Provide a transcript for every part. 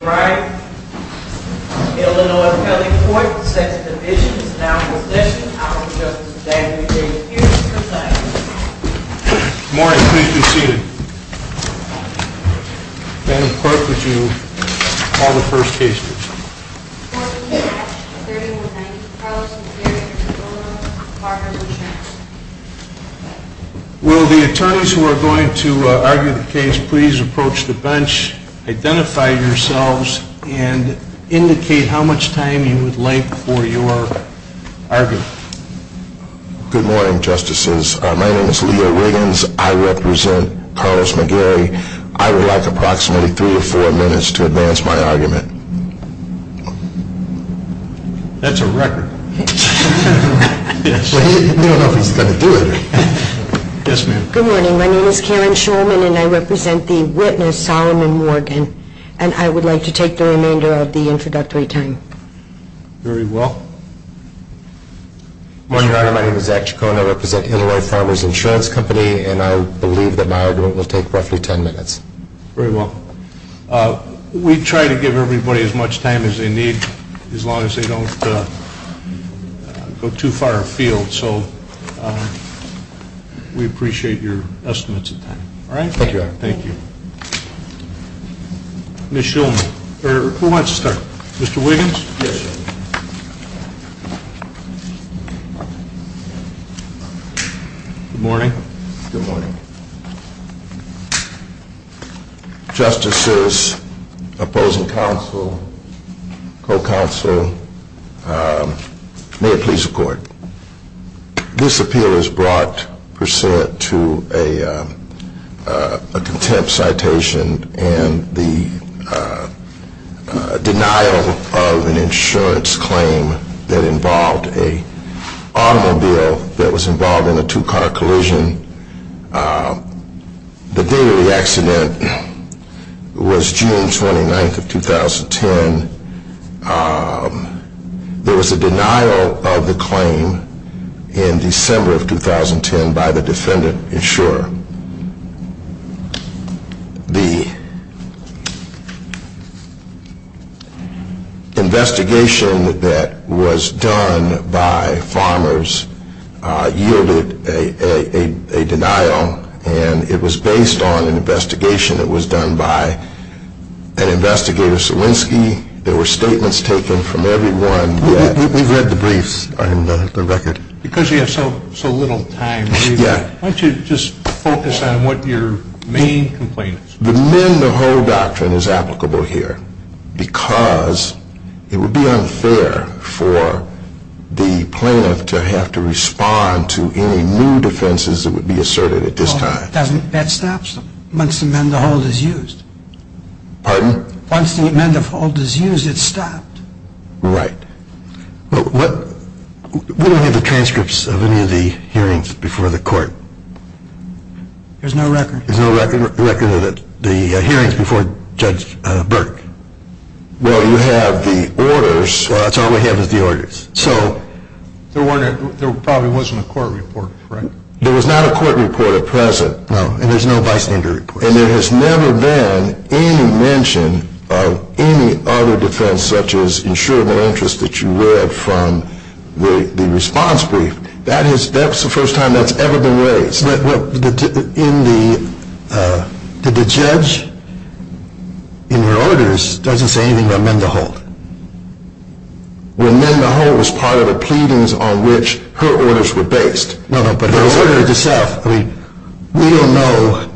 All right, Illinois County Court sets the division. Now for session, I'll have Justice Daniels here to present. Good morning, please be seated. Madam Clerk, would you call the first case, please? Court is in session. 3190, Carlos McCary v. IL Farmers Insurance. Will the attorneys who are going to argue the case please approach the bench, identify yourselves, and indicate how much time you would like for your argument. Good morning, Justices. My name is Leo Riggins. I represent Carlos McGary. I would like approximately three or four minutes to advance my argument. That's a record. Good morning, my name is Karen Schulman and I represent the witness, Solomon Morgan, and I would like to take the remainder of the introductory time. Very well. Good morning, Your Honor. My name is Zach Chacon. I represent Illinois Farmers Insurance Company and I believe that my argument will take roughly ten minutes. Very well. We try to give everybody as much time as they need, as long as they don't go too far afield, so we appreciate your estimates of time. Thank you, Your Honor. Thank you. Ms. Schulman, or who wants to start? Mr. Wiggins? Yes, Your Honor. Good morning. Good morning. Justices, opposing counsel, co-counsel, may it please the court. This appeal is brought, per se, to a contempt citation and the denial of an insurance claim that involved an automobile that was involved in a two-car collision. The daily accident was June 29th of 2010. There was a denial of the claim in December of 2010 by the defendant insurer. The investigation that was done by farmers yielded a denial and it was based on an investigation that was done by an investigator, Salinski. There were statements taken from everyone that We've read the briefs on the record. Because you have so little time, why don't you just focus on what your main complaint is. The mend the hold doctrine is applicable here because it would be unfair for the plaintiff to have to respond to any new defenses that would be asserted at this time. That stops them once the mend the hold is used. Pardon? Once the mend the hold is used, it's stopped. Right. We don't have the transcripts of any of the hearings before the court. There's no record. There's no record of the hearings before Judge Burke. Well, you have the orders. That's all we have is the orders. There probably wasn't a court report, correct? There was not a court report at present. No, and there's no bystander report. And there has never been any mention of any other defense such as insurable interest that you read from the response brief. That's the first time that's ever been raised. But the judge in her orders doesn't say anything about mend the hold. Well, mend the hold was part of the pleadings on which her orders were based. No, no, but her orders itself. I mean, we don't know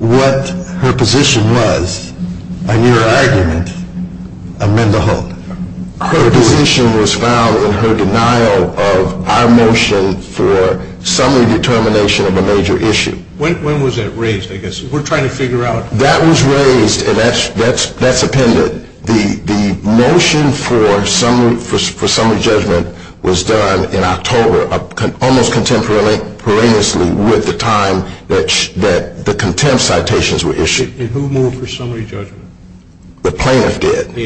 what her position was on your argument of mend the hold. Her position was found in her denial of our motion for summary determination of a major issue. When was that raised, I guess? We're trying to figure out. That was raised, and that's appended. The motion for summary judgment was done in October, almost contemporaneously with the time that the contempt citations were issued. And who moved for summary judgment? The plaintiff did.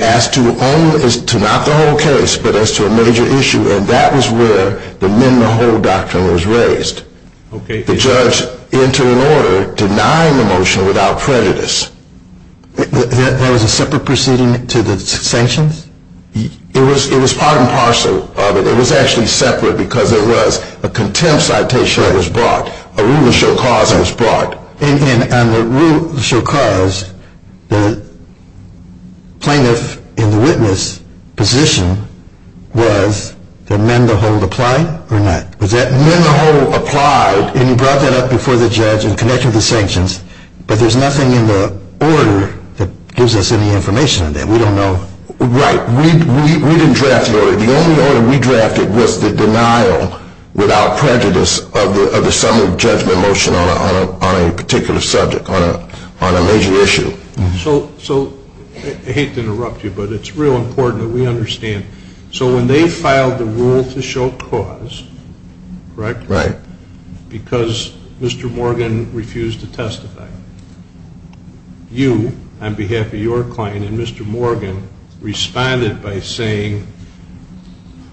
As to not the whole case, but as to a major issue. And that was where the mend the hold doctrine was raised. The judge entered an order denying the motion without prejudice. That was a separate proceeding to the sanctions? It was part and parcel of it. It was actually separate because there was a contempt citation that was brought, a rule of show cause that was brought. And on the rule of show cause, the plaintiff in the witness position was that mend the hold applied or not? Was that mend the hold applied? And you brought that up before the judge in connection with the sanctions. But there's nothing in the order that gives us any information on that. We don't know. Right. We didn't draft the order. The only order we drafted was the denial without prejudice of the summary judgment motion on a particular subject, on a major issue. So I hate to interrupt you, but it's real important that we understand. So when they filed the rule to show cause, correct? Right. Because Mr. Morgan refused to testify. You, on behalf of your client and Mr. Morgan, responded by saying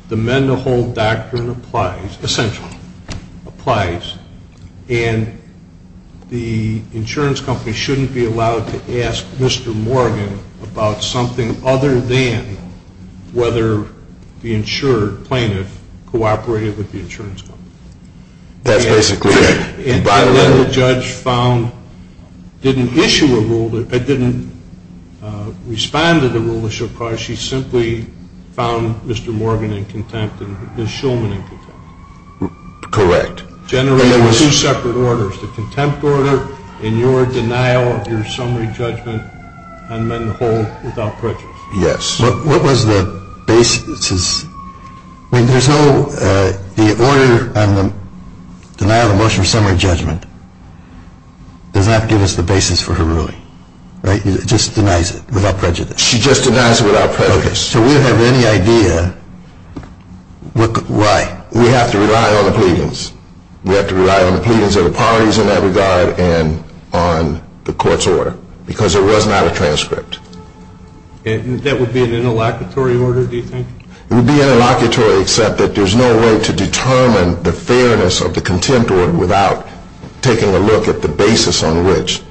the mend the hold doctrine applies, essentially applies, and the insurance company shouldn't be allowed to ask Mr. Morgan about something other than whether the insured plaintiff cooperated with the insurance company. That's basically it. And then the judge found, didn't issue a rule, didn't respond to the rule of show cause. She simply found Mr. Morgan in contempt and Ms. Shulman in contempt. Correct. Generating two separate orders, the contempt order and your denial of your summary judgment on mend the hold without prejudice. Yes. What was the basis? I mean, there's no, the order on the denial of motion of summary judgment does not give us the basis for her ruling. Right? It just denies it without prejudice. She just denies it without prejudice. Okay. So we don't have any idea why. We have to rely on the pleadings. We have to rely on the pleadings of the parties in that regard and on the court's order because it was not a transcript. And that would be an interlocutory order, do you think? It would be interlocutory except that there's no way to determine the fairness of the contempt order without taking a look at the basis on which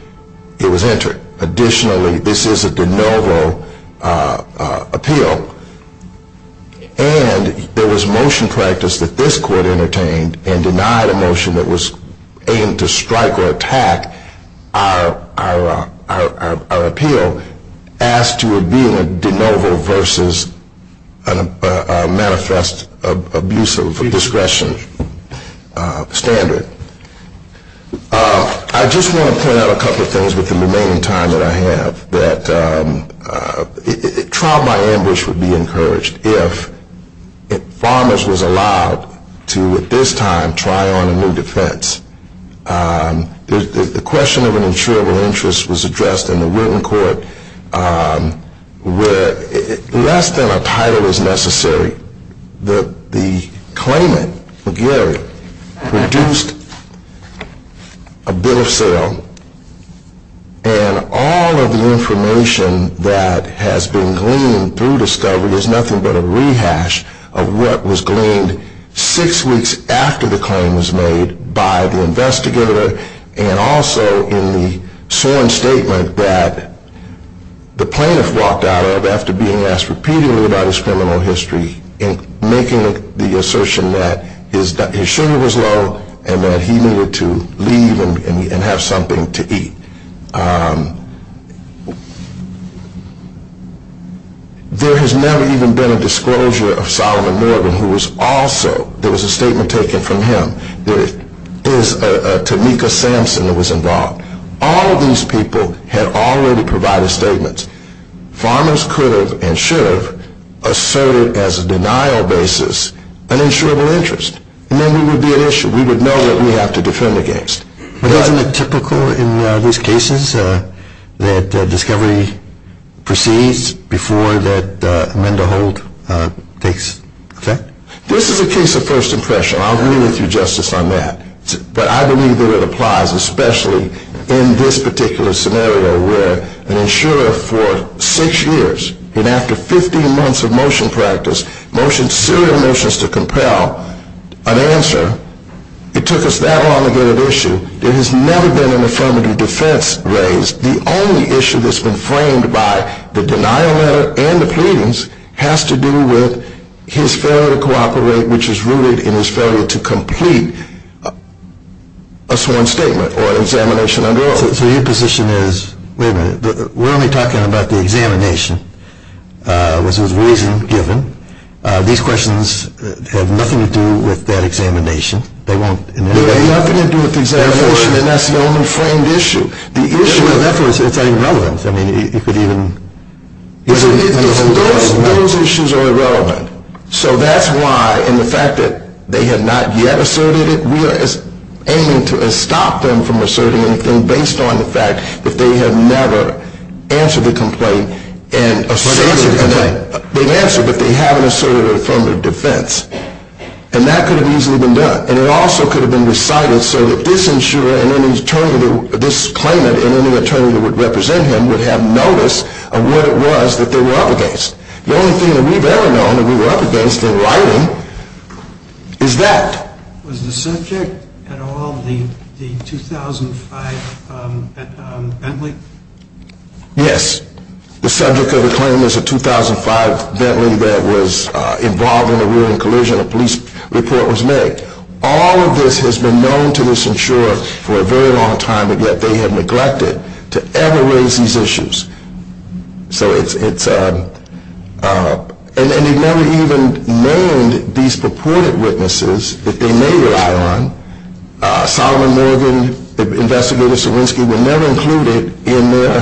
it was entered. Additionally, this is a de novo appeal. And there was motion practice that this court entertained and denied a motion that was aimed to strike or attack our appeal as to it being a de novo versus a manifest abusive discretion standard. I just want to point out a couple of things with the remaining time that I have. That trial by ambush would be encouraged if farmers was allowed to at this time try on a new defense. The question of an insurable interest was addressed in the written court where less than a title is necessary. The claimant, McGarry, produced a bill of sale and all of the information that has been gleaned through discovery is nothing but a rehash of what was gleaned six weeks after the claim was made by the investigator and also in the sworn statement that the plaintiff walked out of after being asked repeatedly about his criminal history and making the assertion that his sugar was low and that he needed to leave and have something to eat. There has never even been a disclosure of Solomon Morgan who was also, there was a statement taken from him, there is a Tamika Sampson that was involved. All of these people had already provided statements. Farmers could have and should have asserted as a denial basis an insurable interest and then we would be at issue. We would know what we have to defend against. But isn't it typical in these cases that discovery proceeds before that amend to hold takes effect? This is a case of first impression. I'll agree with you, Justice, on that. But I believe that it applies especially in this particular scenario where an insurer for six years and after 15 months of motion practice, serial motions to compel an answer, it took us that long to get at issue. There has never been an affirmative defense raised. The only issue that's been framed by the denial letter and the pleadings has to do with his failure to cooperate which is rooted in his failure to complete a sworn statement or examination under oath. So your position is, wait a minute, we're only talking about the examination, which was reason given. These questions have nothing to do with that examination. They won't in any way. They have nothing to do with the examination and that's the only framed issue. Therefore, it's irrelevant. Those issues are irrelevant. So that's why in the fact that they have not yet asserted it, we are aiming to stop them from asserting anything based on the fact that they have never answered the complaint. They've answered, but they haven't asserted an affirmative defense. And that could have easily been done. And it also could have been recited so that this claimant and any attorney that would represent him would have notice of what it was that they were up against. The only thing that we've ever known that we were up against in writing is that. Was the subject at all the 2005 Bentley? Yes. The subject of the claim is a 2005 Bentley that was involved in a rear-end collision. A police report was made. All of this has been known to this insurer for a very long time, and yet they have neglected to ever raise these issues. And they've never even named these purported witnesses that they may rely on. Solomon Morgan, Investigator Sawinski, were never included in their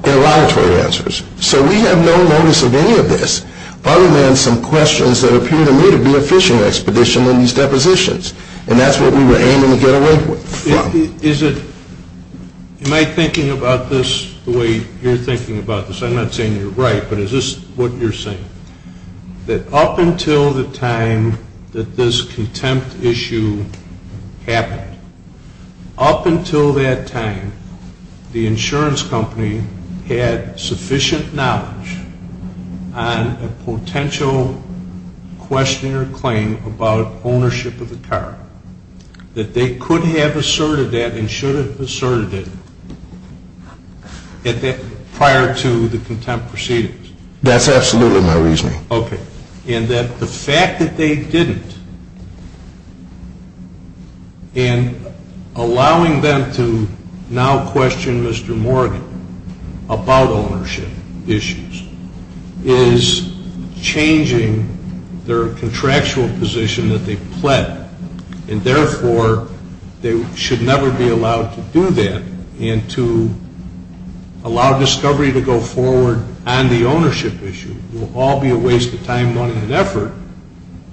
interrogatory answers. So we have no notice of any of this other than some questions that appear to me to be a fishing expedition on these depositions. And that's what we were aiming to get away from. Am I thinking about this the way you're thinking about this? I'm not saying you're right, but is this what you're saying? That up until the time that this contempt issue happened, up until that time the insurance company had sufficient knowledge on a potential question or claim about ownership of the car that they could have asserted that and should have asserted it prior to the contempt proceedings. That's absolutely my reasoning. Okay. And that the fact that they didn't and allowing them to now question Mr. Morgan about ownership issues is changing their contractual position that they pled. And therefore they should never be allowed to do that and to allow discovery to go forward on the ownership issue will all be a waste of time, money, and effort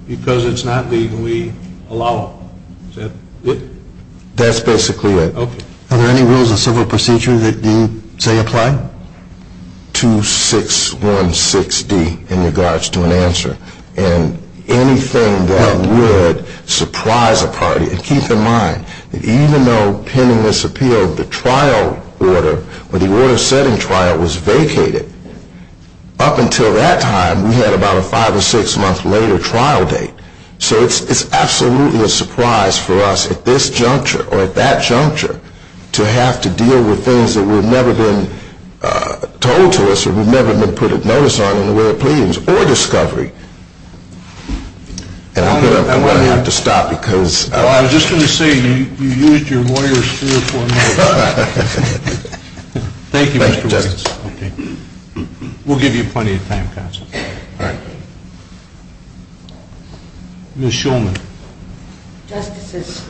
because it's not legally allowable. Is that it? That's basically it. Okay. Are there any rules of civil procedure that you say apply? I have 2616D in regards to an answer and anything that would surprise a party. And keep in mind that even though pending this appeal the trial order, the order-setting trial was vacated, up until that time we had about a five or six-month later trial date. So it's absolutely a surprise for us at this juncture or at that juncture to have to deal with things that were never been told to us or we've never been put a notice on in the way of pleadings or discovery. And I'm going to have to stop because... Well, I was just going to say you used your lawyer's spiel for a minute. Thank you, Mr. Winston. We'll give you plenty of time, counsel. All right. Ms. Schulman. Justices.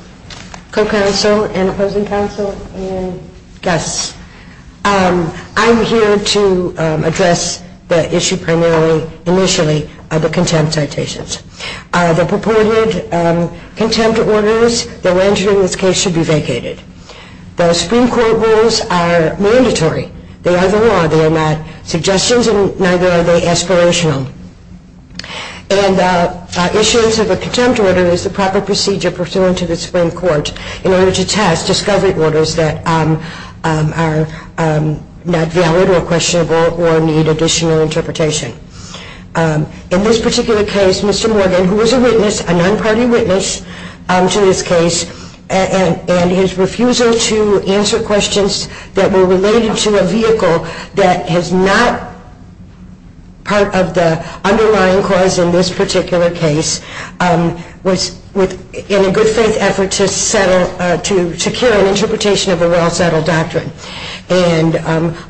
Co-counsel and opposing counsel and guests. I'm here to address the issue primarily initially of the contempt citations. The purported contempt orders that were entered in this case should be vacated. The Supreme Court rules are mandatory. They are the law. They are not suggestions and neither are they aspirational. And issuance of a contempt order is the proper procedure pursuant to the Supreme Court in order to test discovery orders that are not valid or questionable or need additional interpretation. In this particular case, Mr. Morgan, who was a witness, a non-party witness to this case, and his refusal to answer questions that were related to a vehicle that is not part of the underlying cause in this particular case, was in a good-faith effort to secure an interpretation of a well-settled doctrine. And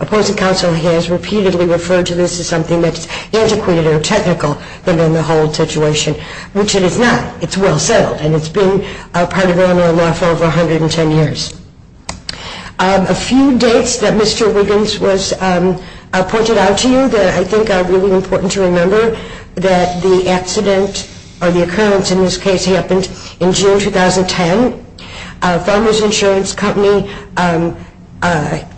opposing counsel has repeatedly referred to this as something that's antiquated or technical than the whole situation, which it is not. It's well-settled and it's been a part of Illinois law for over 110 years. A few dates that Mr. Wiggins was pointed out to you that I think are really important to remember, that the accident or the occurrence in this case happened in June 2010. Farmers Insurance Company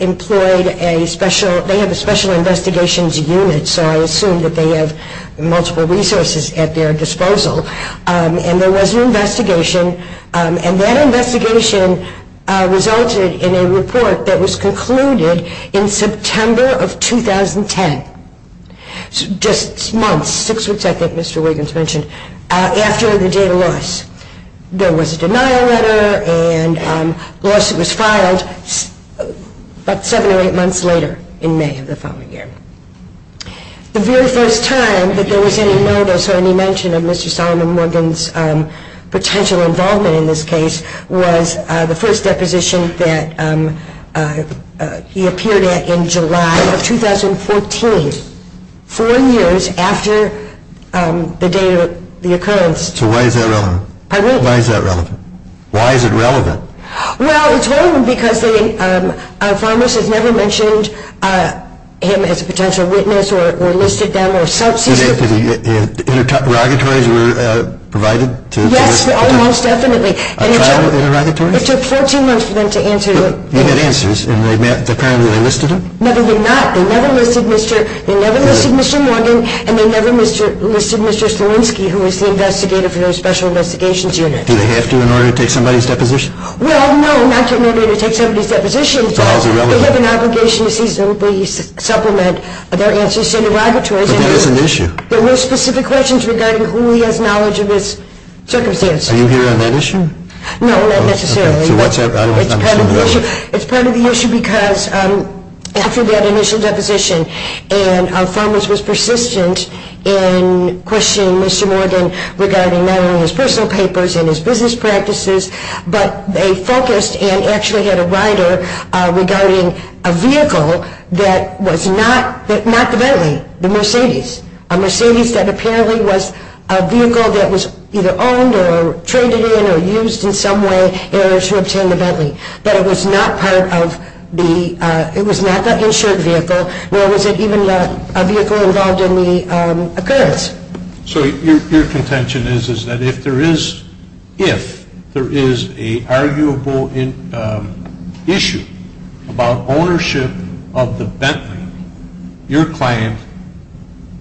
employed a special, they have a special investigations unit, so I assume that they have multiple resources at their disposal. And there was an investigation, and that investigation resulted in a report that was concluded in September of 2010. Just months, six weeks I think Mr. Wiggins mentioned, after the data loss. There was a denial letter and a lawsuit was filed about seven or eight months later in May of the following year. The very first time that there was any notice or any mention of Mr. Solomon Wiggins' potential involvement in this case was the first deposition that he appeared at in July of 2014. Four years after the date of the occurrence. So why is that relevant? Why is it relevant? Well, we told them because our farmers had never mentioned him as a potential witness or listed them. Interrogatories were provided? Yes, almost definitely. It took 14 months for them to answer. You had answers, and apparently they listed him? No, they did not. They never listed Mr. Morgan, and they never listed Mr. Stilinski, who was the investigator for the special investigations unit. Do they have to in order to take somebody's deposition? Well, no, not in order to take somebody's deposition. They have an obligation to supplement their answers to interrogatories. But that is an issue. There were specific questions regarding who he has knowledge of his circumstances. Are you here on that issue? No, not necessarily. It's part of the issue because after that initial deposition, and our farmers were persistent in questioning Mr. Morgan regarding not only his personal papers and his business practices, but they focused and actually had a rider regarding a vehicle that was not the Bentley, the Mercedes. A Mercedes that apparently was a vehicle that was either owned or traded in or used in some way, in order to obtain the Bentley. But it was not the insured vehicle, nor was it even a vehicle involved in the occurrence. So your contention is that if there is an arguable issue about ownership of the Bentley, your client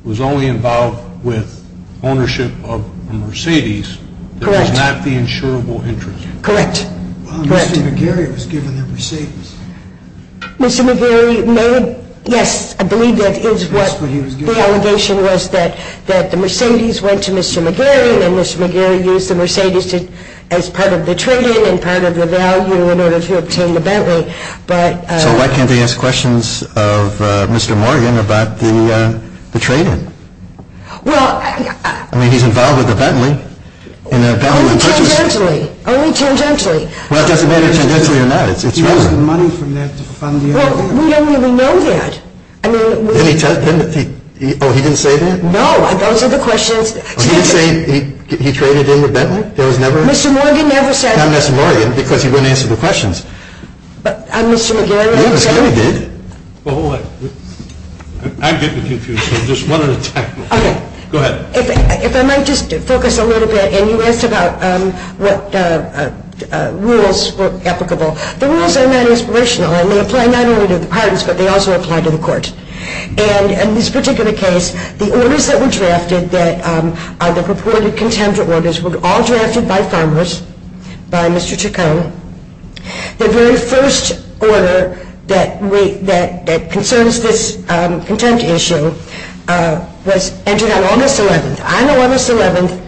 was only involved with ownership of a Mercedes that was not the insurable interest. Well, Mr. McGarry was given the Mercedes. Yes, I believe that is what the allegation was, that the Mercedes went to Mr. McGarry, and Mr. McGarry used the Mercedes as part of the trade-in and part of the value in order to obtain the Bentley. So why can't they ask questions of Mr. Morgan about the trade-in? I mean, he's involved with the Bentley. Only tangentially. Well, it doesn't matter tangentially or not. Well, we don't really know that. Oh, he didn't say that? No, those are the questions. Oh, he didn't say he traded in the Bentley? Mr. Morgan never said that. Mr. McGarry did. If I might just focus a little bit. You asked about what rules were applicable. The rules are not inspirational, and they apply not only to the parties, but they also apply to the court. And in this particular case, the orders that were drafted that are the purported contempt orders were all drafted by farmers, by Mr. Chacon. The very first order that concerns this contempt issue was entered on August 11th. On August 11th,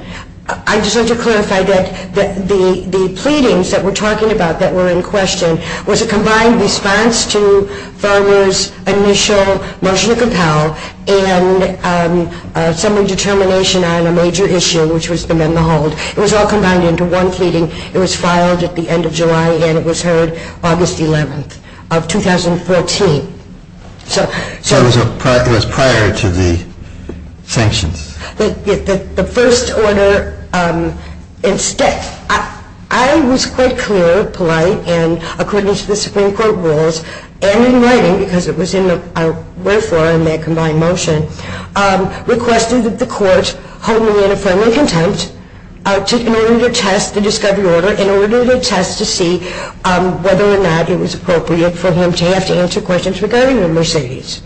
I just want to clarify that the pleadings that we're talking about that were in question was a combined response to farmers' initial motion to compel and summary determination on a major issue, which was to amend the hold. It was all combined into one pleading. It was filed at the end of July, and it was heard August 11th of 2014. So it was prior to the sanctions. The first order, instead, I was quite clear, polite, and according to the Supreme Court rules, and in writing, because it was in our wherefore in that combined motion, requested that the court hold me in affirming contempt in order to test the discovery order, in order to test to see whether or not it was appropriate for him to have to answer questions regarding the Mercedes,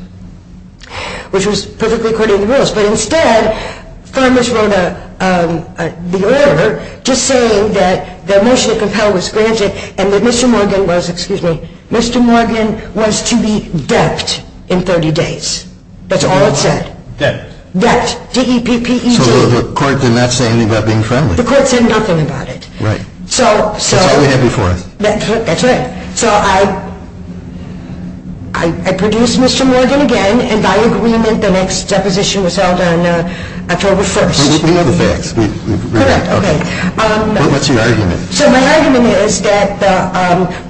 which was perfectly according to the rules. But instead, farmers wrote the order just saying that the motion to compel was granted and that Mr. Morgan was, excuse me, Mr. Morgan was to be debt in 30 days. That's all it said. Debt, D-E-P-P-E-J. So the court did not say anything about being friendly. The court said nothing about it. That's what we had before us. That's right. So I produced Mr. Morgan again, and by agreement, the next deposition was held on October 1st. We know the facts. What's your argument? So my argument is that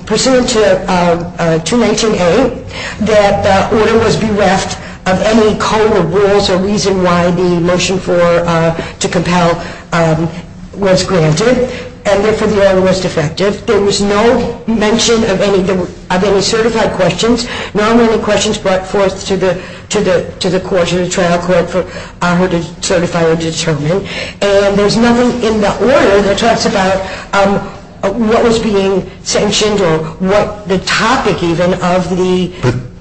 pursuant to 219A, that the order was bereft of any code of rules or reason why the motion to compel was granted, and therefore the order was defective. There was no mention of any certified questions. Nor were any questions brought forth to the trial court for her to certify or determine. And there's nothing in the order that talks about what was being sanctioned or what the topic even of the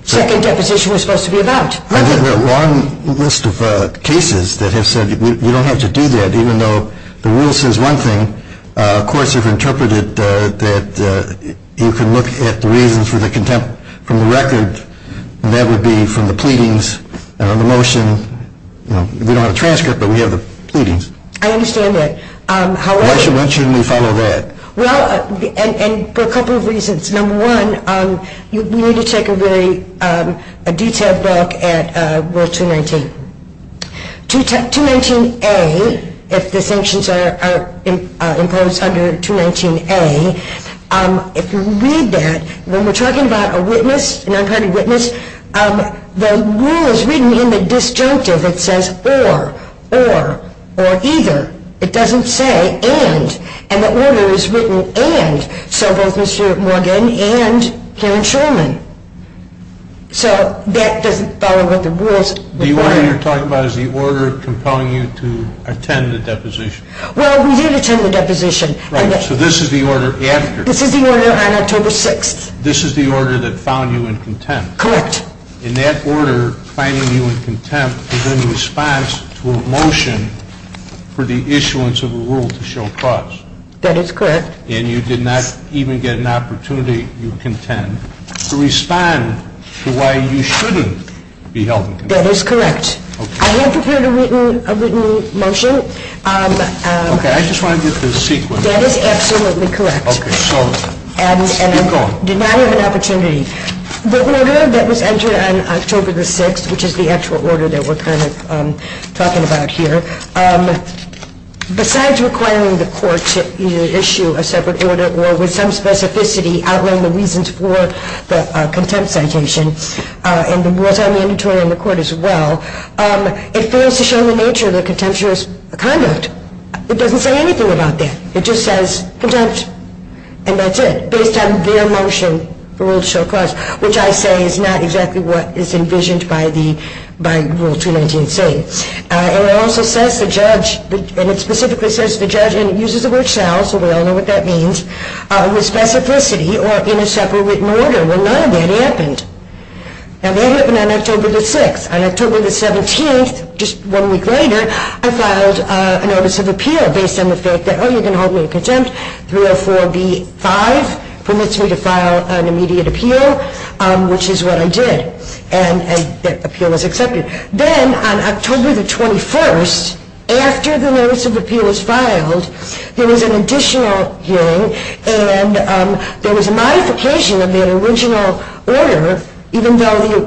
second deposition was supposed to be about. I think there are a long list of cases that have said you don't have to do that, even though the rule says one thing. Of course, they've interpreted that you can look at the reasons for the contempt from the record, and that would be from the pleadings and on the motion. We don't have a transcript, but we have the pleadings. I understand that. Why shouldn't we follow that? Well, and for a couple of reasons. Number one, we need to take a detailed look at Rule 219. 219A, if the sanctions are imposed under 219A, if you read that, when we're talking about a witness, an unpartied witness, the rule is written in the disjunctive. It says or, or, or either. It doesn't say and. And the order is written and, so both Mr. Morgan and Karen Shulman. So that doesn't follow what the rules require. The order you're talking about is the order compelling you to attend the deposition. Well, we did attend the deposition. Right, so this is the order after. This is the order on October 6th. This is the order that found you in contempt. Correct. And that order finding you in contempt is in response to a motion for the issuance of a rule to show cause. That is correct. And you did not even get an opportunity, you contend, to respond to why you shouldn't be held in contempt. That is correct. I have prepared a written motion. Okay, I just want to get the sequence. That is absolutely correct. Okay, so keep going. And I did not have an opportunity. The order that was entered on October the 6th, which is the actual order that we're kind of talking about here, besides requiring the court to either issue a separate order or with some specificity for the contempt citation, and the rules are mandatory in the court as well, it fails to show the nature of the contemptuous conduct. It doesn't say anything about that. It just says contempt, and that's it, based on their motion for rule to show cause, which I say is not exactly what is envisioned by Rule 219c. And it also says the judge, and it specifically says the judge, and it uses the word shall, so we all know what that means, with specificity or in a separate written order. Well, none of that happened. And that happened on October the 6th. On October the 17th, just one week later, I filed a notice of appeal based on the fact that, oh, you're going to hold me in contempt, 304b.5 permits me to file an immediate appeal, which is what I did, and that appeal was accepted. Then on October the 21st, after the notice of appeal was filed, there was an additional hearing, and there was a modification of the original order, even though later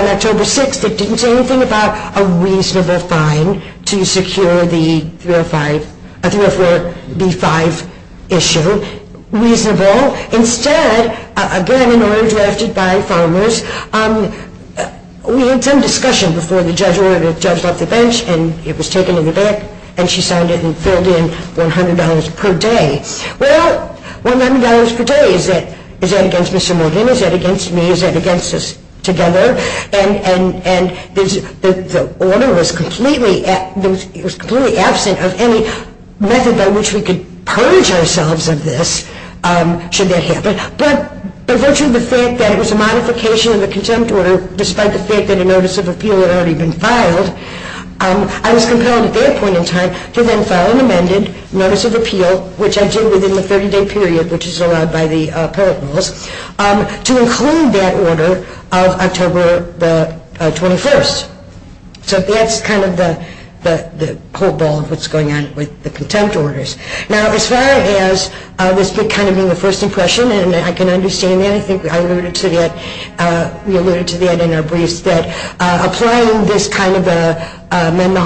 on October 6th, it didn't say anything about a reasonable fine to secure the 304b.5 issue, reasonable. Instead, again, an order drafted by Farmers, we had some discussion before the judge wrote it, the judge left the bench, and it was taken to the bank, and she signed it and filled in $100 per day. Well, $100 per day, is that against Mr. Morgan? Is that against me? Is that against us together? And the order was completely absent of any method by which we could purge ourselves of this should that happen. But by virtue of the fact that it was a modification of the contempt order, despite the fact that a notice of appeal had already been filed, I was compelled at that point in time to then file an amended notice of appeal, which I did within the 30-day period which is allowed by the appellate rules, to include that order of October the 21st. So that's kind of the whole ball of what's going on with the contempt orders. Now, as far as this kind of being a first impression, and I can understand that, I think I alluded to that, we alluded to that in our briefs, that applying this kind of a memo,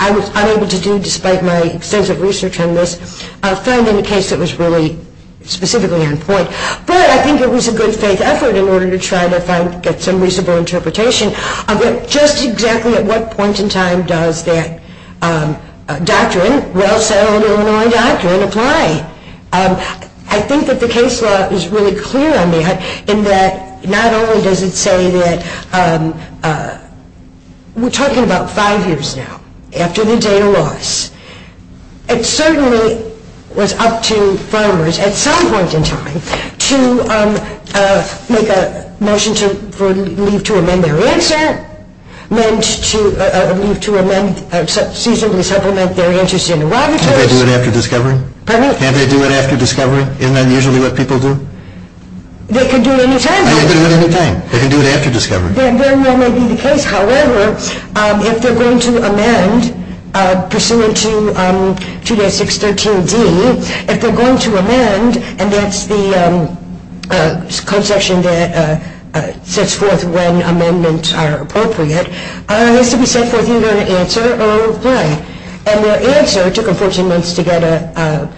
I was unable to do despite my extensive research on this, found in a case that was really specifically on point. But I think it was a good faith effort in order to try to get some reasonable interpretation of just exactly at what point in time does that doctrine, well-settled Illinois doctrine, apply. I think that the case law is really clear on that, in that not only does it say that we're talking about five years now, after the data loss, it certainly was up to farmers at some point in time to make a motion to leave to amend their answer, leave to seasonally supplement their interest in the water choice. Can't they do it after discovery? Pardon me? Can't they do it after discovery? Isn't that usually what people do? They can do it any time. They can do it any time. They can do it after discovery. That very well may be the case. However, if they're going to amend, pursuant to 2-613-D, if they're going to amend, and that's the conception that sets forth when amendments are appropriate, it has to be set forth either an answer or a reply. And their answer took them 14 months to get a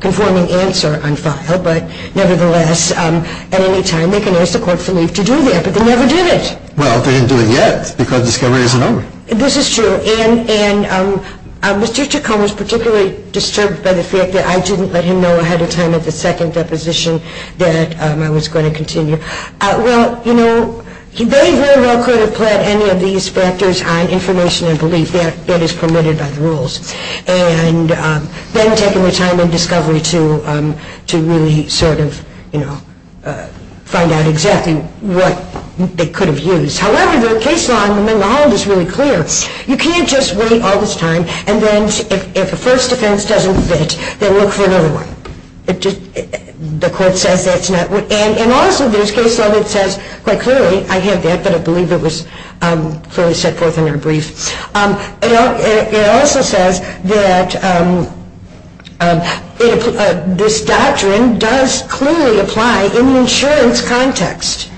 conforming answer on file. But nevertheless, at any time, they can ask the court for leave to do that. But they never did it. Well, they didn't do it yet because discovery isn't over. This is true. And Mr. Ticone was particularly disturbed by the fact that I didn't let him know ahead of time at the second deposition that I was going to continue. Well, you know, they very well could have pled any of these factors on information and belief. That is permitted by the rules. And then taking their time in discovery to really sort of, you know, find out exactly what they could have used. However, the case law in the Holland is really clear. You can't just wait all this time, and then if the first offense doesn't fit, then look for another one. The court says that's not what. And also, there's case law that says quite clearly, I have that, but I believe it was fully set forth in our brief. It also says that this doctrine does clearly apply in an insurance context.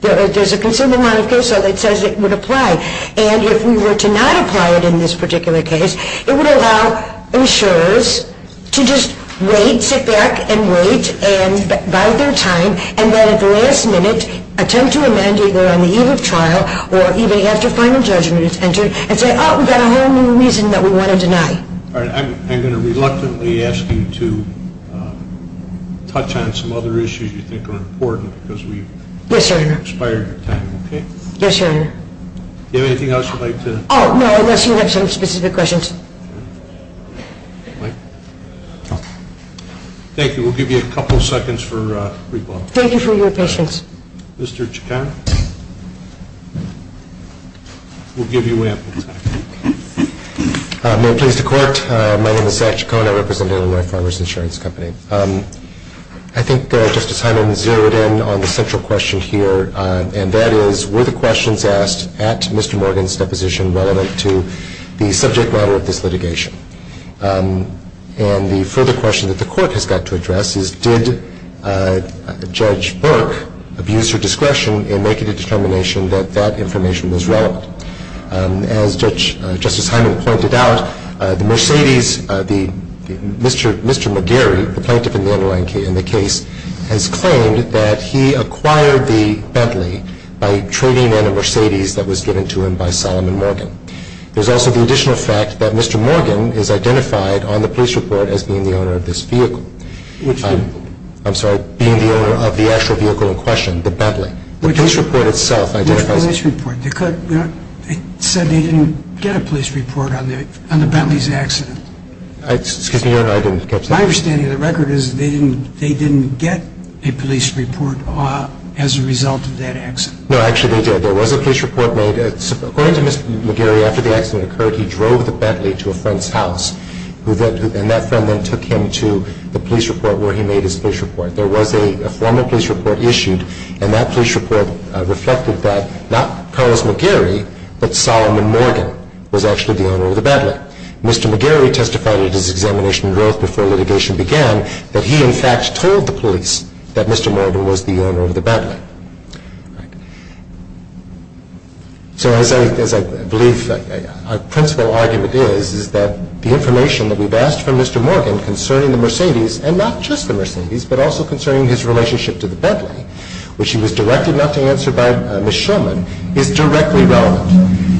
There's a considerable amount of case law that says it would apply. And if we were to not apply it in this particular case, it would allow insurers to just wait, sit back and wait, and buy their time, and then at the last minute attempt to amend either on the eve of trial or even after final judgment is entered and say, oh, we've got a whole new reason that we want to deny. All right. I'm going to reluctantly ask you to touch on some other issues you think are important because we've expired our time. Okay? Yes, Your Honor. Do you have anything else you'd like to? Oh, no. Unless you have some specific questions. Thank you. We'll give you a couple seconds for rebuttal. Thank you for your patience. Mr. Chicano. We'll give you ample time. May it please the Court. My name is Zach Chicano. I represent Illinois Farmers Insurance Company. I think Justice Hyman zeroed in on the central question here, and that is were the questions asked at Mr. Morgan's deposition relevant to the subject matter of this litigation? And the further question that the Court has got to address is did Judge Burke abuse her discretion in making a determination that that information was relevant? As Justice Hyman pointed out, the Mercedes, Mr. McGarry, the plaintiff in the case, has claimed that he acquired the Bentley by trading in a Mercedes that was given to him by Solomon Morgan. There's also the additional fact that Mr. Morgan is identified on the police report as being the owner of this vehicle. Which report? I'm sorry, being the owner of the actual vehicle in question, the Bentley. The police report itself identifies it. Which police report? They said they didn't get a police report on the Bentley's accident. Excuse me, Your Honor, I didn't catch that. My understanding of the record is they didn't get a police report as a result of that accident. No, actually they did. There was a police report made. According to Mr. McGarry, after the accident occurred, he drove the Bentley to a friend's house, and that friend then took him to the police report where he made his police report. There was a formal police report issued, and that police report reflected that not Carlos McGarry, but Solomon Morgan was actually the owner of the Bentley. Mr. McGarry testified at his examination in growth before litigation began that he, in fact, told the police that Mr. Morgan was the owner of the Bentley. So as I believe our principal argument is, is that the information that we've asked from Mr. Morgan concerning the Mercedes, and not just the Mercedes, but also concerning his relationship to the Bentley, which he was directed not to answer by Ms. Shulman, is directly relevant.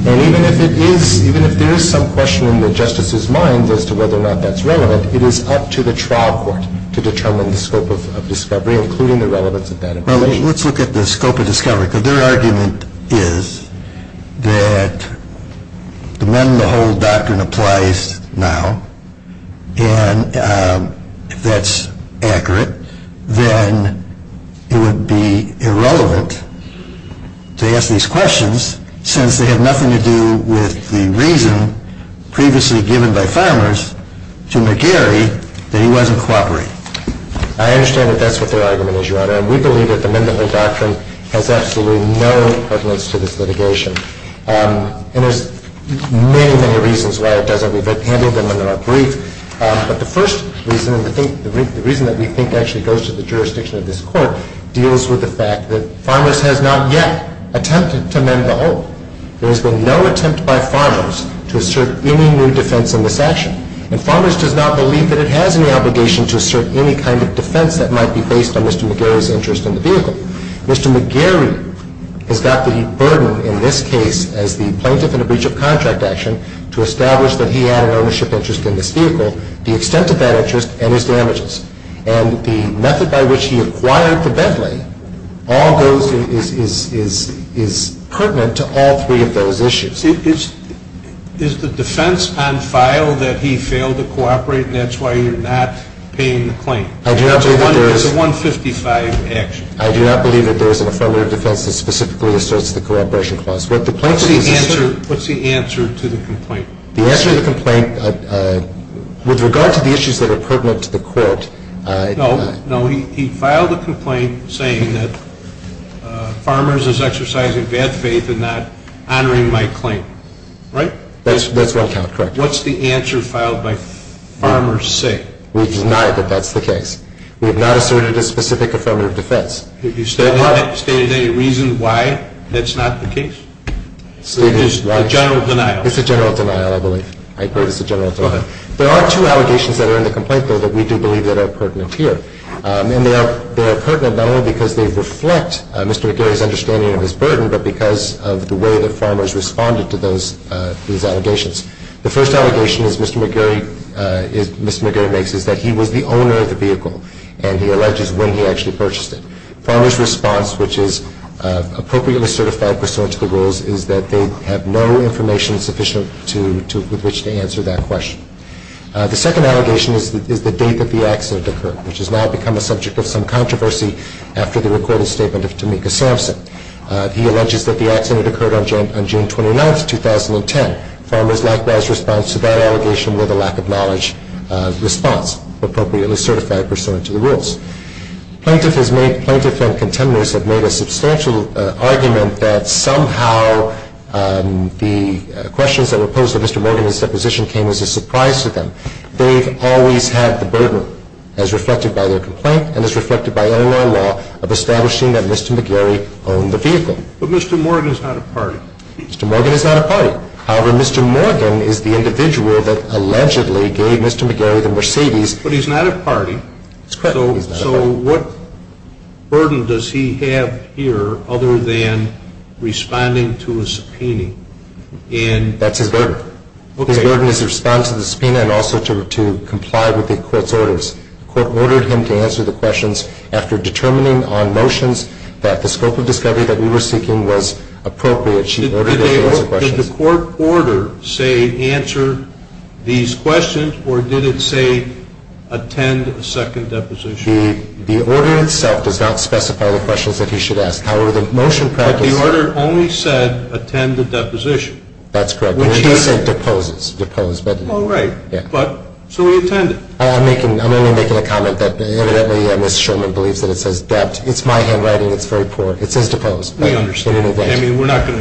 And even if it is, even if there is some question in the Justice's mind as to whether or not that's relevant, it is up to the trial court to determine the scope of discovery, including the relevance of that information. Well, let's look at the scope of discovery. Because their argument is that the Mend the Hold doctrine applies now, and if that's accurate, then it would be irrelevant to ask these questions, since they have nothing to do with the reason previously given by farmers to McGarry that he wasn't cooperating. I understand that that's what their argument is, Your Honor. And we believe that the Mend the Hold doctrine has absolutely no prevalence to this litigation. And there's many, many reasons why it doesn't. We've handed them under our brief. But the first reason, and the reason that we think actually goes to the jurisdiction of this Court, deals with the fact that farmers has not yet attempted to mend the hold. There has been no attempt by farmers to assert any new defense in this action. And farmers does not believe that it has any obligation to assert any kind of defense that might be based on Mr. McGarry's interest in the vehicle. Mr. McGarry has got the burden in this case as the plaintiff in a breach of contract action to establish that he had an ownership interest in this vehicle, the extent of that interest, and his damages. And the method by which he acquired the Bentley is pertinent to all three of those issues. Is the defense on file that he failed to cooperate and that's why you're not paying the claim? It's a 155 action. I do not believe that there is an affirmative defense that specifically asserts the cooperation clause. What's the answer to the complaint? The answer to the complaint, with regard to the issues that are pertinent to the Court. No, he filed a complaint saying that farmers is exercising bad faith and not honoring my claim, right? That's one count, correct. What's the answer filed by farmers say? We deny that that's the case. We have not asserted a specific affirmative defense. Do you state any reason why that's not the case? It's a general denial. It's a general denial, I believe. I agree it's a general denial. Go ahead. There are two allegations that are in the complaint, though, that we do believe that are pertinent here. And they are pertinent not only because they reflect Mr. McGarry's understanding of his burden, but because of the way that farmers responded to those allegations. The first allegation that Mr. McGarry makes is that he was the owner of the vehicle, and he alleges when he actually purchased it. Farmers' response, which is appropriately certified pursuant to the rules, is that they have no information sufficient with which to answer that question. The second allegation is the date that the accident occurred, which has now become a subject of some controversy after the recorded statement of Tamika Sampson. He alleges that the accident occurred on June 29, 2010. Farmers' likewise response to that allegation were the lack of knowledge response, appropriately certified pursuant to the rules. Plaintiff and contemporaries have made a substantial argument that somehow the questions that were posed to Mr. Morgan in his deposition came as a surprise to them. They've always had the burden, as reflected by their complaint and as reflected by Illinois law, of establishing that Mr. McGarry owned the vehicle. But Mr. Morgan is not a party. Mr. Morgan is not a party. However, Mr. Morgan is the individual that allegedly gave Mr. McGarry the Mercedes. But he's not a party. So what burden does he have here other than responding to a subpoena? That's his burden. His burden is to respond to the subpoena and also to comply with the court's orders. The court ordered him to answer the questions after determining on motions that the scope of discovery that we were seeking was appropriate. Did the court order say answer these questions or did it say attend a second deposition? The order itself does not specify the questions that he should ask. However, the motion practice. But the order only said attend the deposition. That's correct. It didn't say depose. Oh, right. So he attended. I'm only making a comment that evidently Ms. Sherman believes that it says dept. It's my handwriting. It's very poor. It says deposed. We understand. I mean, we're not going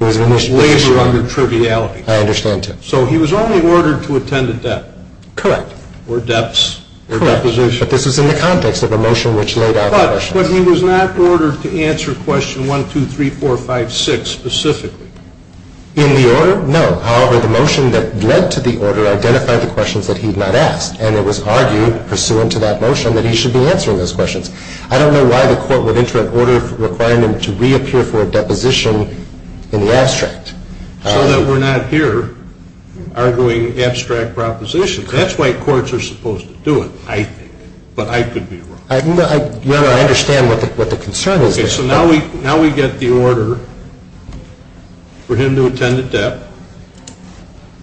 to label you under triviality. I understand, too. So he was only ordered to attend a dept. Correct. Or deps. Correct. Or deposition. But this was in the context of the motion which laid out the questions. But he was not ordered to answer question 1, 2, 3, 4, 5, 6 specifically. In the order, no. However, the motion that led to the order identified the questions that he had not asked. And it was argued pursuant to that motion that he should be answering those questions. I don't know why the court would enter an order requirement to reappear for a deposition in the abstract. So that we're not here arguing abstract propositions. That's why courts are supposed to do it, I think. But I could be wrong. No, I understand what the concern is there. Okay. So now we get the order for him to attend a dept.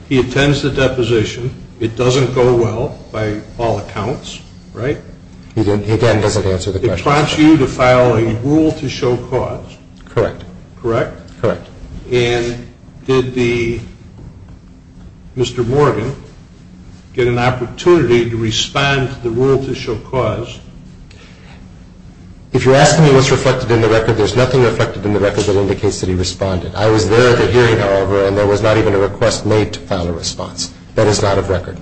He attends the deposition. It doesn't go well by all accounts, right? Again, it doesn't answer the question. It prompts you to file a rule to show cause. Correct. Correct? Correct. And did Mr. Morgan get an opportunity to respond to the rule to show cause? If you're asking me what's reflected in the record, there's nothing reflected in the record that indicates that he responded. I was there at the hearing, however, and there was not even a request made to file a response. That is not of record.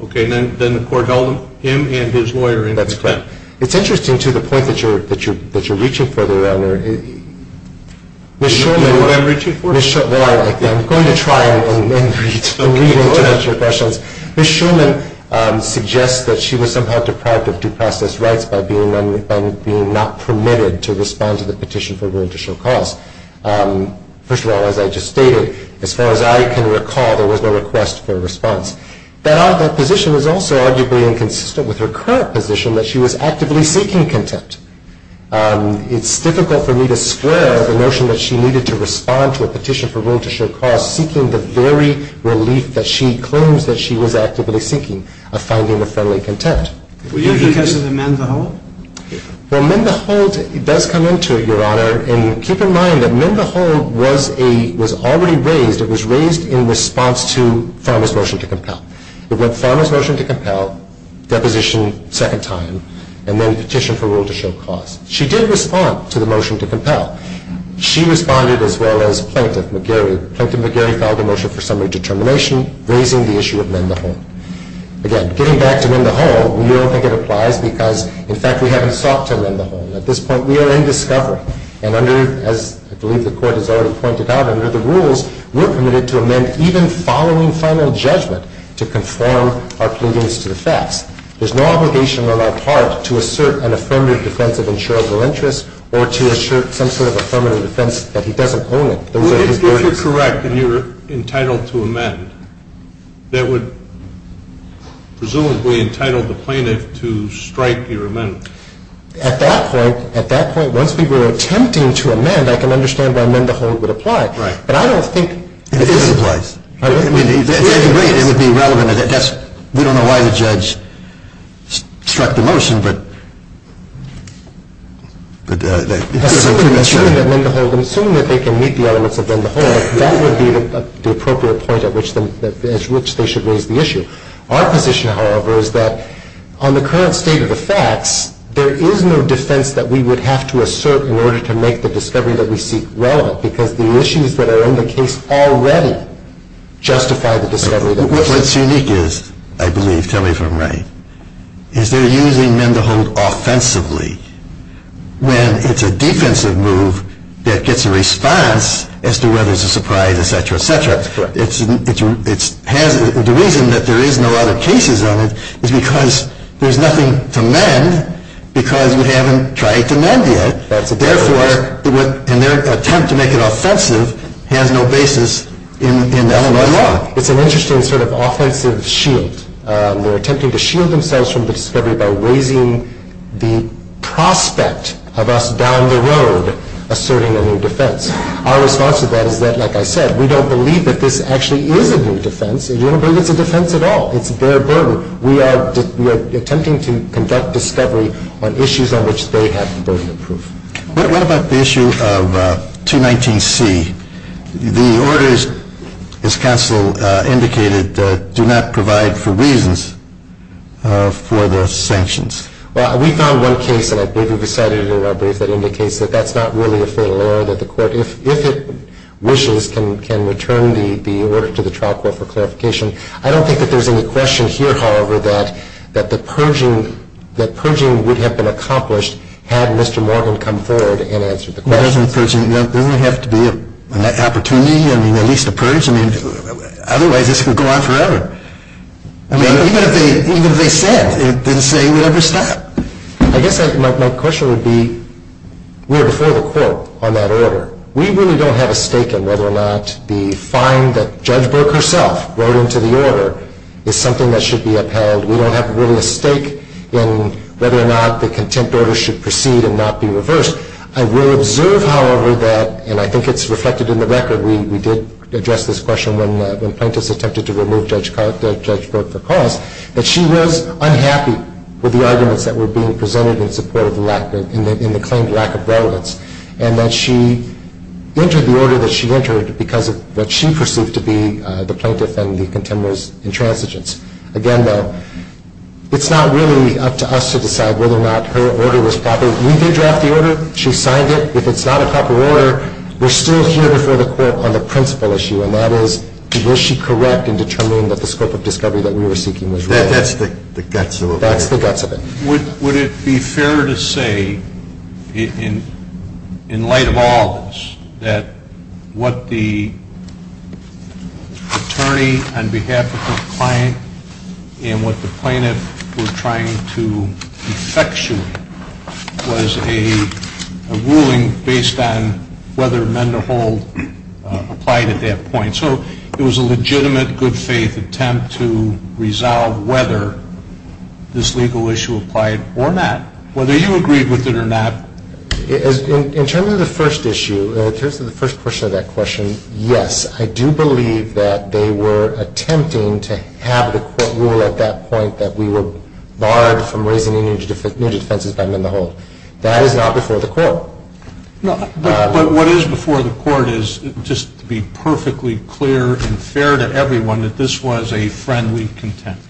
Okay. And then the court held him and his lawyer in contempt. That's correct. It's interesting, too, the point that you're reaching for there, Your Honor. Do you know what I'm reaching for? Well, I'm going to try and read and interpret your questions. Ms. Shulman suggests that she was somehow deprived of due process rights by being not permitted to respond to the petition for rule to show cause. First of all, as I just stated, as far as I can recall, there was no request for a response. That position is also arguably inconsistent with her current position that she was actively seeking contempt. It's difficult for me to square the notion that she needed to respond to a petition for rule to show cause, seeking the very relief that she claims that she was actively seeking of finding a friendly contempt. Was that because of the mend the hold? Well, mend the hold does come into it, Your Honor. And keep in mind that mend the hold was already raised. It was raised in response to Farmer's motion to compel. It went Farmer's motion to compel, deposition second time, and then petition for rule to show cause. She did respond to the motion to compel. She responded as well as Plaintiff McGarry. Plaintiff McGarry filed a motion for summary determination raising the issue of mend the hold. Again, getting back to mend the hold, we don't think it applies because, in fact, we haven't sought to mend the hold. At this point, we are in discovery. And under, as I believe the Court has already pointed out, under the rules, we're permitted to amend even following final judgment to conform our pleadings to the facts. There's no obligation on our part to assert an affirmative defense of insurable interest or to assert some sort of affirmative defense that he doesn't own it. If you're correct and you're entitled to amend, that would presumably entitle the plaintiff to strike your amendment. At that point, once we were attempting to amend, I can understand why mend the hold would apply. Right. But I don't think it is. It applies. I mean, to some degree, it would be relevant. We don't know why the judge struck the motion. Assuming that mend the hold, assuming that they can meet the elements of mend the hold, that would be the appropriate point at which they should raise the issue. Our position, however, is that on the current state of the facts, there is no defense that we would have to assert in order to make the discovery that we seek relevant because the issues that are in the case already justify the discovery that we seek. What's unique is, I believe, tell me if I'm right, is they're using mend the hold offensively when it's a defensive move that gets a response as to whether it's a surprise, et cetera, et cetera. That's correct. The reason that there isn't a lot of cases on it is because there's nothing to mend because we haven't tried to mend yet. Therefore, their attempt to make it offensive has no basis in the Illinois law. It's an interesting sort of offensive shield. They're attempting to shield themselves from the discovery by raising the prospect of us down the road asserting a new defense. Our response to that is that, like I said, we don't believe that this actually is a new defense. We don't believe it's a defense at all. It's a bare burden. We are attempting to conduct discovery on issues on which they have the burden of proof. What about the issue of 219C? The orders, as counsel indicated, do not provide for reasons for the sanctions. Well, we found one case, and I believe we've cited it in our brief, that indicates that that's not really a fatal error that the court, if it wishes, can return the order to the trial court for clarification. I don't think that there's any question here, however, that purging would have been accomplished had Mr. Morgan come forward and answered the question. Doesn't purging have to be an opportunity, at least a purge? Otherwise, this could go on forever. Even if they said it, the saying would never stop. I guess my question would be, we are before the court on that order. We really don't have a stake in whether or not the fine that Judge Burke herself wrote into the order is something that should be upheld. We don't have really a stake in whether or not the contempt order should proceed and not be reversed. I will observe, however, that, and I think it's reflected in the record, we did address this question when plaintiffs attempted to remove Judge Burke for cause, that she was unhappy with the arguments that were being presented in support of the lack, in the claimed lack of relevance, and that she entered the order that she entered because of what she perceived to be the plaintiff and the contemptible's intransigence. Again, though, it's not really up to us to decide whether or not her order was proper. We did draft the order. She signed it. If it's not a proper order, we're still here before the court on the principal issue, and that is, will she correct in determining that the scope of discovery that we were seeking was right? That's the guts of it. That's the guts of it. Would it be fair to say, in light of all of this, that what the attorney on behalf of the client and what the plaintiff were trying to effectuate was a ruling based on whether Mendehall applied at that point? So it was a legitimate, good-faith attempt to resolve whether this legal issue applied or not, whether you agreed with it or not. In terms of the first issue, in terms of the first portion of that question, yes. I do believe that they were attempting to have the court rule at that point that we were barred from raising energy defenses by Mendehall. That is not before the court. But what is before the court is, just to be perfectly clear and fair to everyone, that this was a friendly contempt.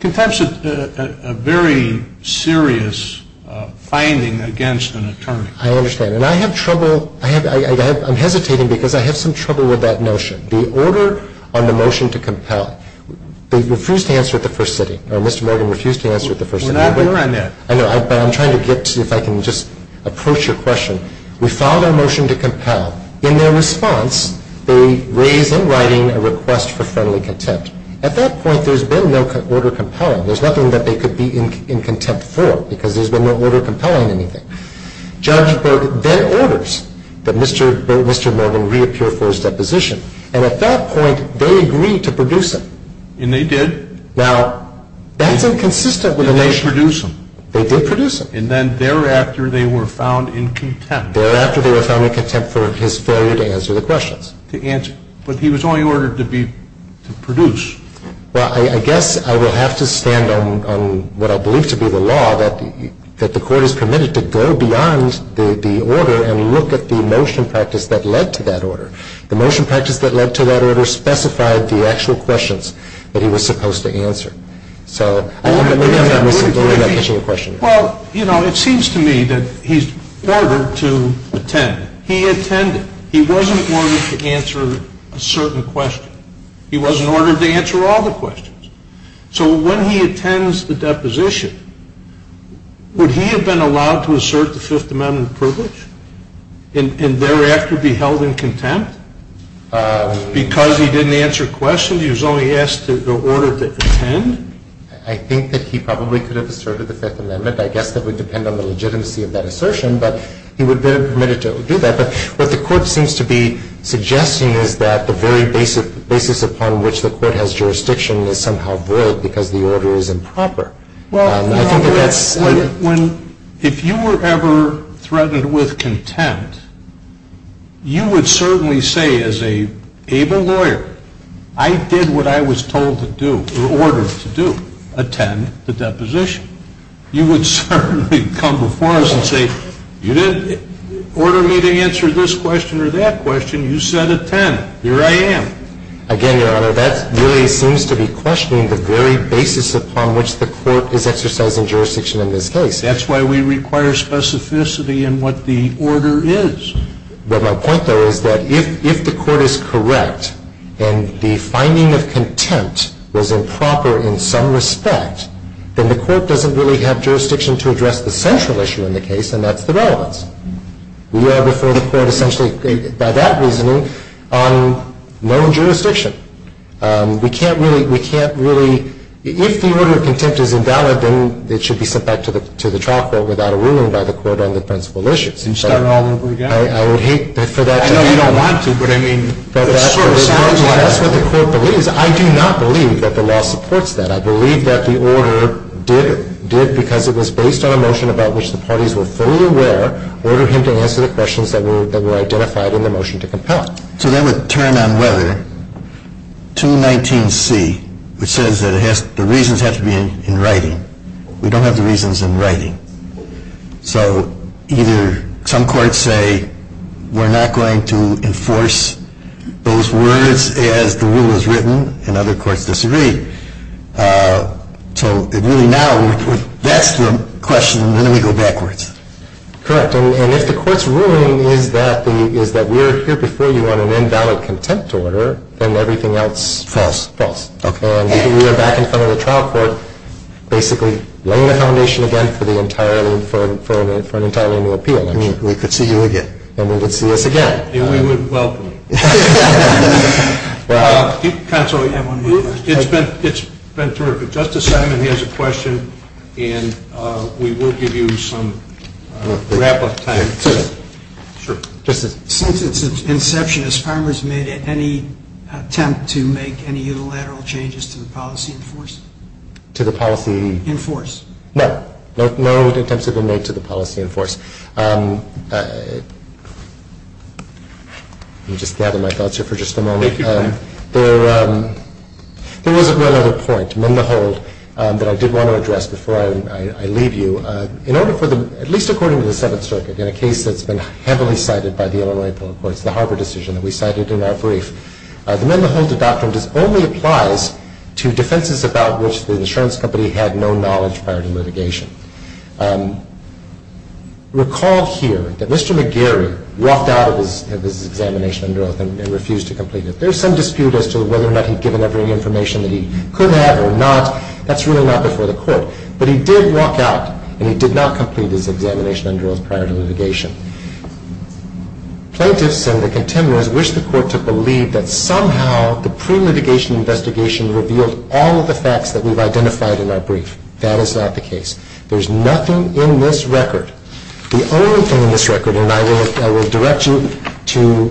Contempt is a very serious finding against an attorney. I understand. And I have trouble, I'm hesitating because I have some trouble with that notion. The order on the motion to compel, they refused to answer at the first sitting, or Mr. Morgan refused to answer at the first sitting. I know, but I'm trying to get, if I can just approach your question. We filed our motion to compel. In their response, they raise in writing a request for friendly contempt. At that point, there's been no order compelling. There's nothing that they could be in contempt for because there's been no order compelling anything. Judge then orders that Mr. Morgan reappear for his deposition. And at that point, they agreed to produce him. And they did? Now, that's inconsistent with the motion. They did produce him. They did produce him. And then thereafter, they were found in contempt. Thereafter, they were found in contempt for his failure to answer the questions. To answer. But he was only ordered to produce. Well, I guess I will have to stand on what I believe to be the law, that the Court has permitted to go beyond the order and look at the motion practice that led to that order. The motion practice that led to that order specified the actual questions that he was supposed to answer. So I don't know if I'm misinterpreting your question. Well, you know, it seems to me that he's ordered to attend. He attended. He wasn't ordered to answer a certain question. He wasn't ordered to answer all the questions. So when he attends the deposition, would he have been allowed to assert the Fifth Amendment privilege and thereafter be held in contempt? Because he didn't answer questions, he was only asked to go order to attend? I think that he probably could have asserted the Fifth Amendment. I guess that would depend on the legitimacy of that assertion. But he would have been permitted to do that. But what the Court seems to be suggesting is that the very basis upon which the Court has jurisdiction is somehow void because the order is improper. I think that that's – Well, if you were ever threatened with contempt, you would certainly say as an able lawyer, I did what I was told to do or ordered to do, attend the deposition. You would certainly come before us and say, you didn't order me to answer this question or that question. You said attend. Here I am. Again, Your Honor, that really seems to be questioning the very basis upon which the Court is exercising jurisdiction in this case. That's why we require specificity in what the order is. But my point, though, is that if the Court is correct and the finding of contempt was improper in some respect, then the Court doesn't really have jurisdiction to address the central issue in the case, and that's the relevance. We are before the Court essentially, by that reasoning, on known jurisdiction. We can't really – if the order of contempt is invalid, then it should be sent back to the trial court without a ruling by the Court on the principal issues. You'd start all over again. I would hate for that to happen. I know you don't want to, but I mean – That's what the Court believes. I do not believe that the law supports that. I believe that the order did, because it was based on a motion about which the parties were fully aware, order him to answer the questions that were identified in the motion to compel it. So that would turn on whether 219C, which says that the reasons have to be in writing. We don't have the reasons in writing. So either some courts say we're not going to enforce those words as the rule is in writing, and other courts disagree. So really now, that's the question, and then we go backwards. Correct. And if the Court's ruling is that we're here before you on an invalid contempt order, then everything else – False. False. Okay. And we are back in front of the trial court basically laying the foundation again for an entirely new appeal. We could see you again. And we would see us again. And we would welcome you. Counsel, it's been terrific. Justice Simon, he has a question, and we will give you some wrap-up time. Sure. Justice? Since its inception, has Farmers made any attempt to make any unilateral changes to the policy enforced? To the policy? Enforced. No. No attempts have been made to the policy enforced. Let me just gather my thoughts here for just a moment. There was one other point, mend the hold, that I did want to address before I leave you. In order for the – at least according to the Seventh Circuit, in a case that's been heavily cited by the Illinois Public Courts, the Harvard decision that we cited in our brief, the mend the hold doctrine only applies to defenses about which the insurance company had no knowledge prior to litigation. Recall here that Mr. McGarry walked out of his examination under oath and refused to complete it. There's some dispute as to whether or not he'd given up any information that he could have or not. That's really not before the court. But he did walk out, and he did not complete his examination under oath prior to litigation. Plaintiffs and the contemporaries wish the court to believe that somehow the pre-litigation investigation revealed all of the facts that we've identified in our brief. That is not the case. There's nothing in this record. The only thing in this record, and I will direct you to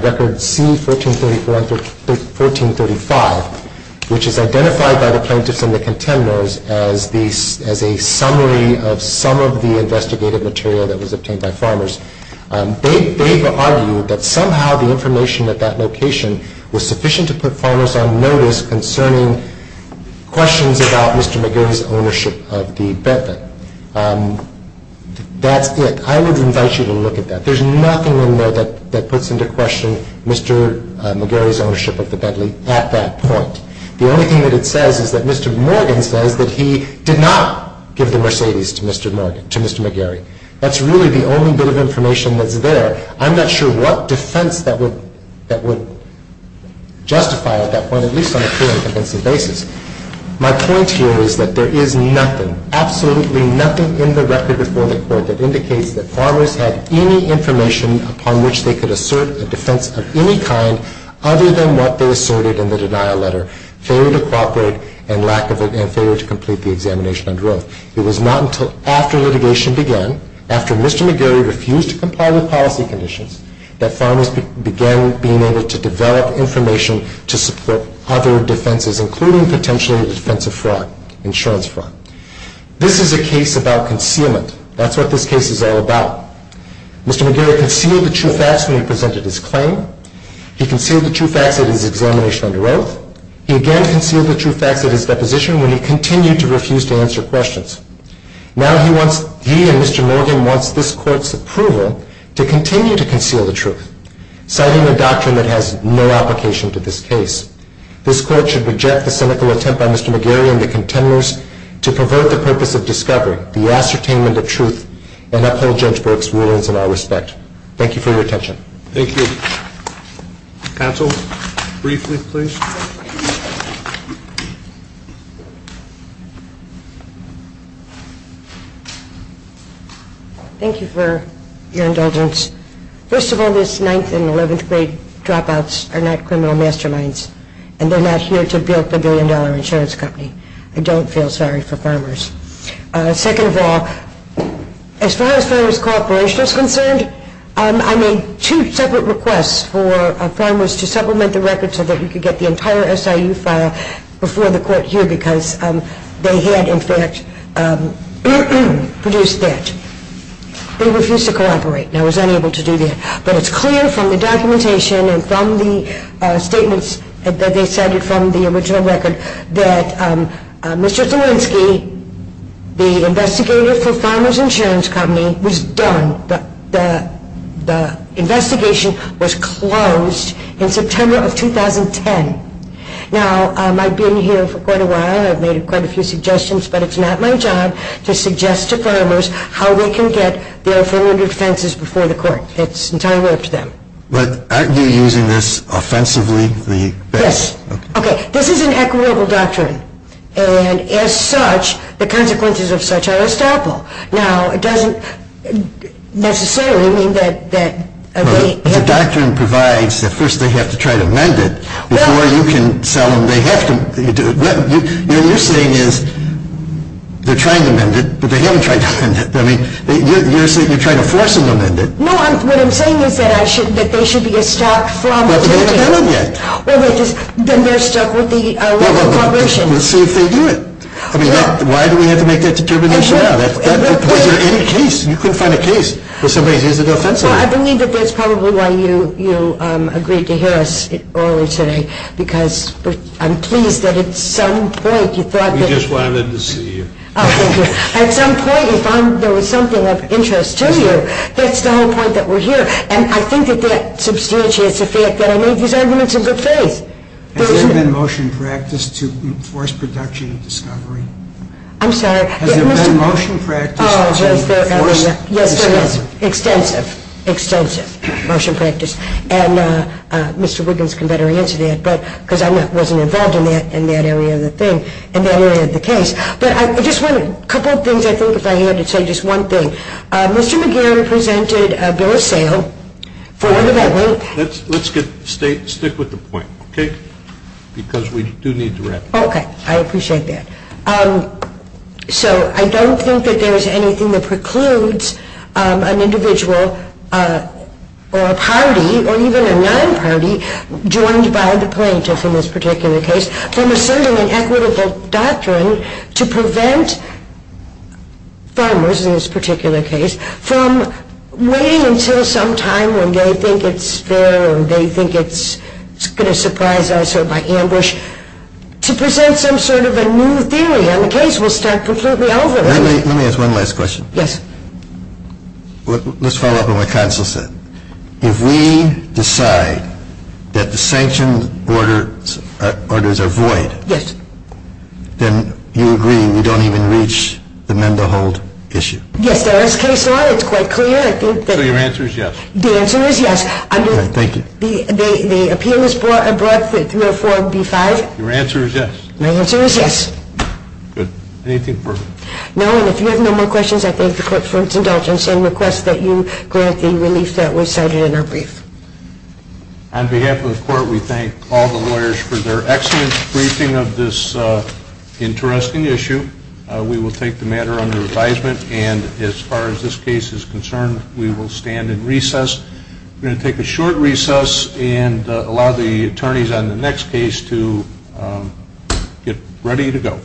record C1434 and 1435, which is identified by the plaintiffs and the contemporaries as a summary of some of the investigative material that was obtained by farmers. They've argued that somehow the information at that location was sufficient to put farmers on notice concerning questions about Mr. McGarry's ownership of the Bedley. That's it. I would invite you to look at that. There's nothing in there that puts into question Mr. McGarry's ownership of the Bedley at that point. The only thing that it says is that Mr. Morgan says that he did not give the Mercedes to Mr. McGarry. That's really the only bit of information that's there. I'm not sure what defense that would justify at that point, at least on a clear and convincing basis. My point here is that there is nothing, absolutely nothing in the record before the Court that indicates that farmers had any information upon which they could assert a defense of any kind other than what they asserted in the denial letter, failure to cooperate and failure to complete the examination under oath. It was not until after litigation began, after Mr. McGarry refused to comply with policy conditions, that farmers began being able to develop information to support other defenses, including potentially a defense of fraud, insurance fraud. This is a case about concealment. That's what this case is all about. Mr. McGarry concealed the true facts when he presented his claim. He concealed the true facts at his examination under oath. He again concealed the true facts at his deposition when he continued to refuse to answer questions. Now he and Mr. Morgan wants this Court's approval to continue to conceal the truth, citing a doctrine that has no application to this case. This Court should reject the cynical attempt by Mr. McGarry and the contenders to pervert the purpose of discovery, the ascertainment of truth, and uphold Judge Bork's rulings in our respect. Thank you for your attention. Thank you. Counsel, briefly please. Thank you for your indulgence. First of all, this 9th and 11th grade dropouts are not criminal masterminds, and they're not here to bilk the billion-dollar insurance company. I don't feel sorry for farmers. Second of all, as far as farmers' cooperation is concerned, I made two separate requests for farmers to supplement the record so that we could get the entire SIU file before the Court here because they had, in fact, produced that. They refused to cooperate and I was unable to do that. But it's clear from the documentation and from the statements that they cited from the original record that Mr. Zielinski, the investigator for Farmers Insurance Company, was done. The investigation was closed in September of 2010. Now, I've been here for quite a while. I've made quite a few suggestions, but it's not my job to suggest to farmers how they can get their affirmative defenses before the Court. It's entirely up to them. But aren't you using this offensively? Yes. Okay. This is an equitable doctrine, and as such, the consequences of such are unstoppable. Now, it doesn't necessarily mean that they have to. The doctrine provides that first they have to try to amend it before you can sell them. What you're saying is they're trying to amend it, but they haven't tried to amend it. You're saying you're trying to force them to amend it. No. What I'm saying is that they should be stopped from taking it. But they haven't done it yet. Well, then they're stuck with the local corporation. Well, we'll see if they do it. I mean, why do we have to make that determination now? Was there any case? You couldn't find a case where somebody's using it offensively. Well, I believe that that's probably why you agreed to hear us earlier today because I'm pleased that at some point you thought that. We just wanted to see you. Oh, thank you. At some point you found there was something of interest to you. That's the whole point that we're here. And I think that that substantiates the fact that I made these arguments in good faith. Has there been motion practice to enforce production and discovery? I'm sorry? Has there been motion practice to enforce discovery? Yes, there has. Extensive, extensive motion practice. And Mr. Wiggins can better answer that because I wasn't involved in that area of the thing, in that area of the case. But I just wanted a couple of things, I think, if I had to say just one thing. Mr. McGarrett presented a bill of sale for development. Let's stick with the point, okay, because we do need to wrap it up. Okay. I appreciate that. So I don't think that there's anything that precludes an individual or a party or even a non-party joined by the plaintiff in this particular case from asserting an equitable doctrine to prevent farmers in this particular case from waiting until some time when they think it's fair or they think it's going to surprise us to present some sort of a new theory on the case. We'll start completely over. Let me ask one last question. Yes. Let's follow up on what Counsel said. If we decide that the sanctioned orders are void, then you agree we don't even reach the men-to-hold issue. Yes, there is case law. It's quite clear. So your answer is yes. The answer is yes. Thank you. The appeal is brought through a 4B5. Your answer is yes. My answer is yes. Good. Anything further? No, and if you have no more questions, I thank the Court for its indulgence and request that you grant the relief that was cited in our brief. On behalf of the Court, we thank all the lawyers for their excellent briefing of this interesting issue. We will take the matter under advisement, and as far as this case is concerned, we will stand in recess. We're going to take a short recess and allow the attorneys on the next case to get ready to go.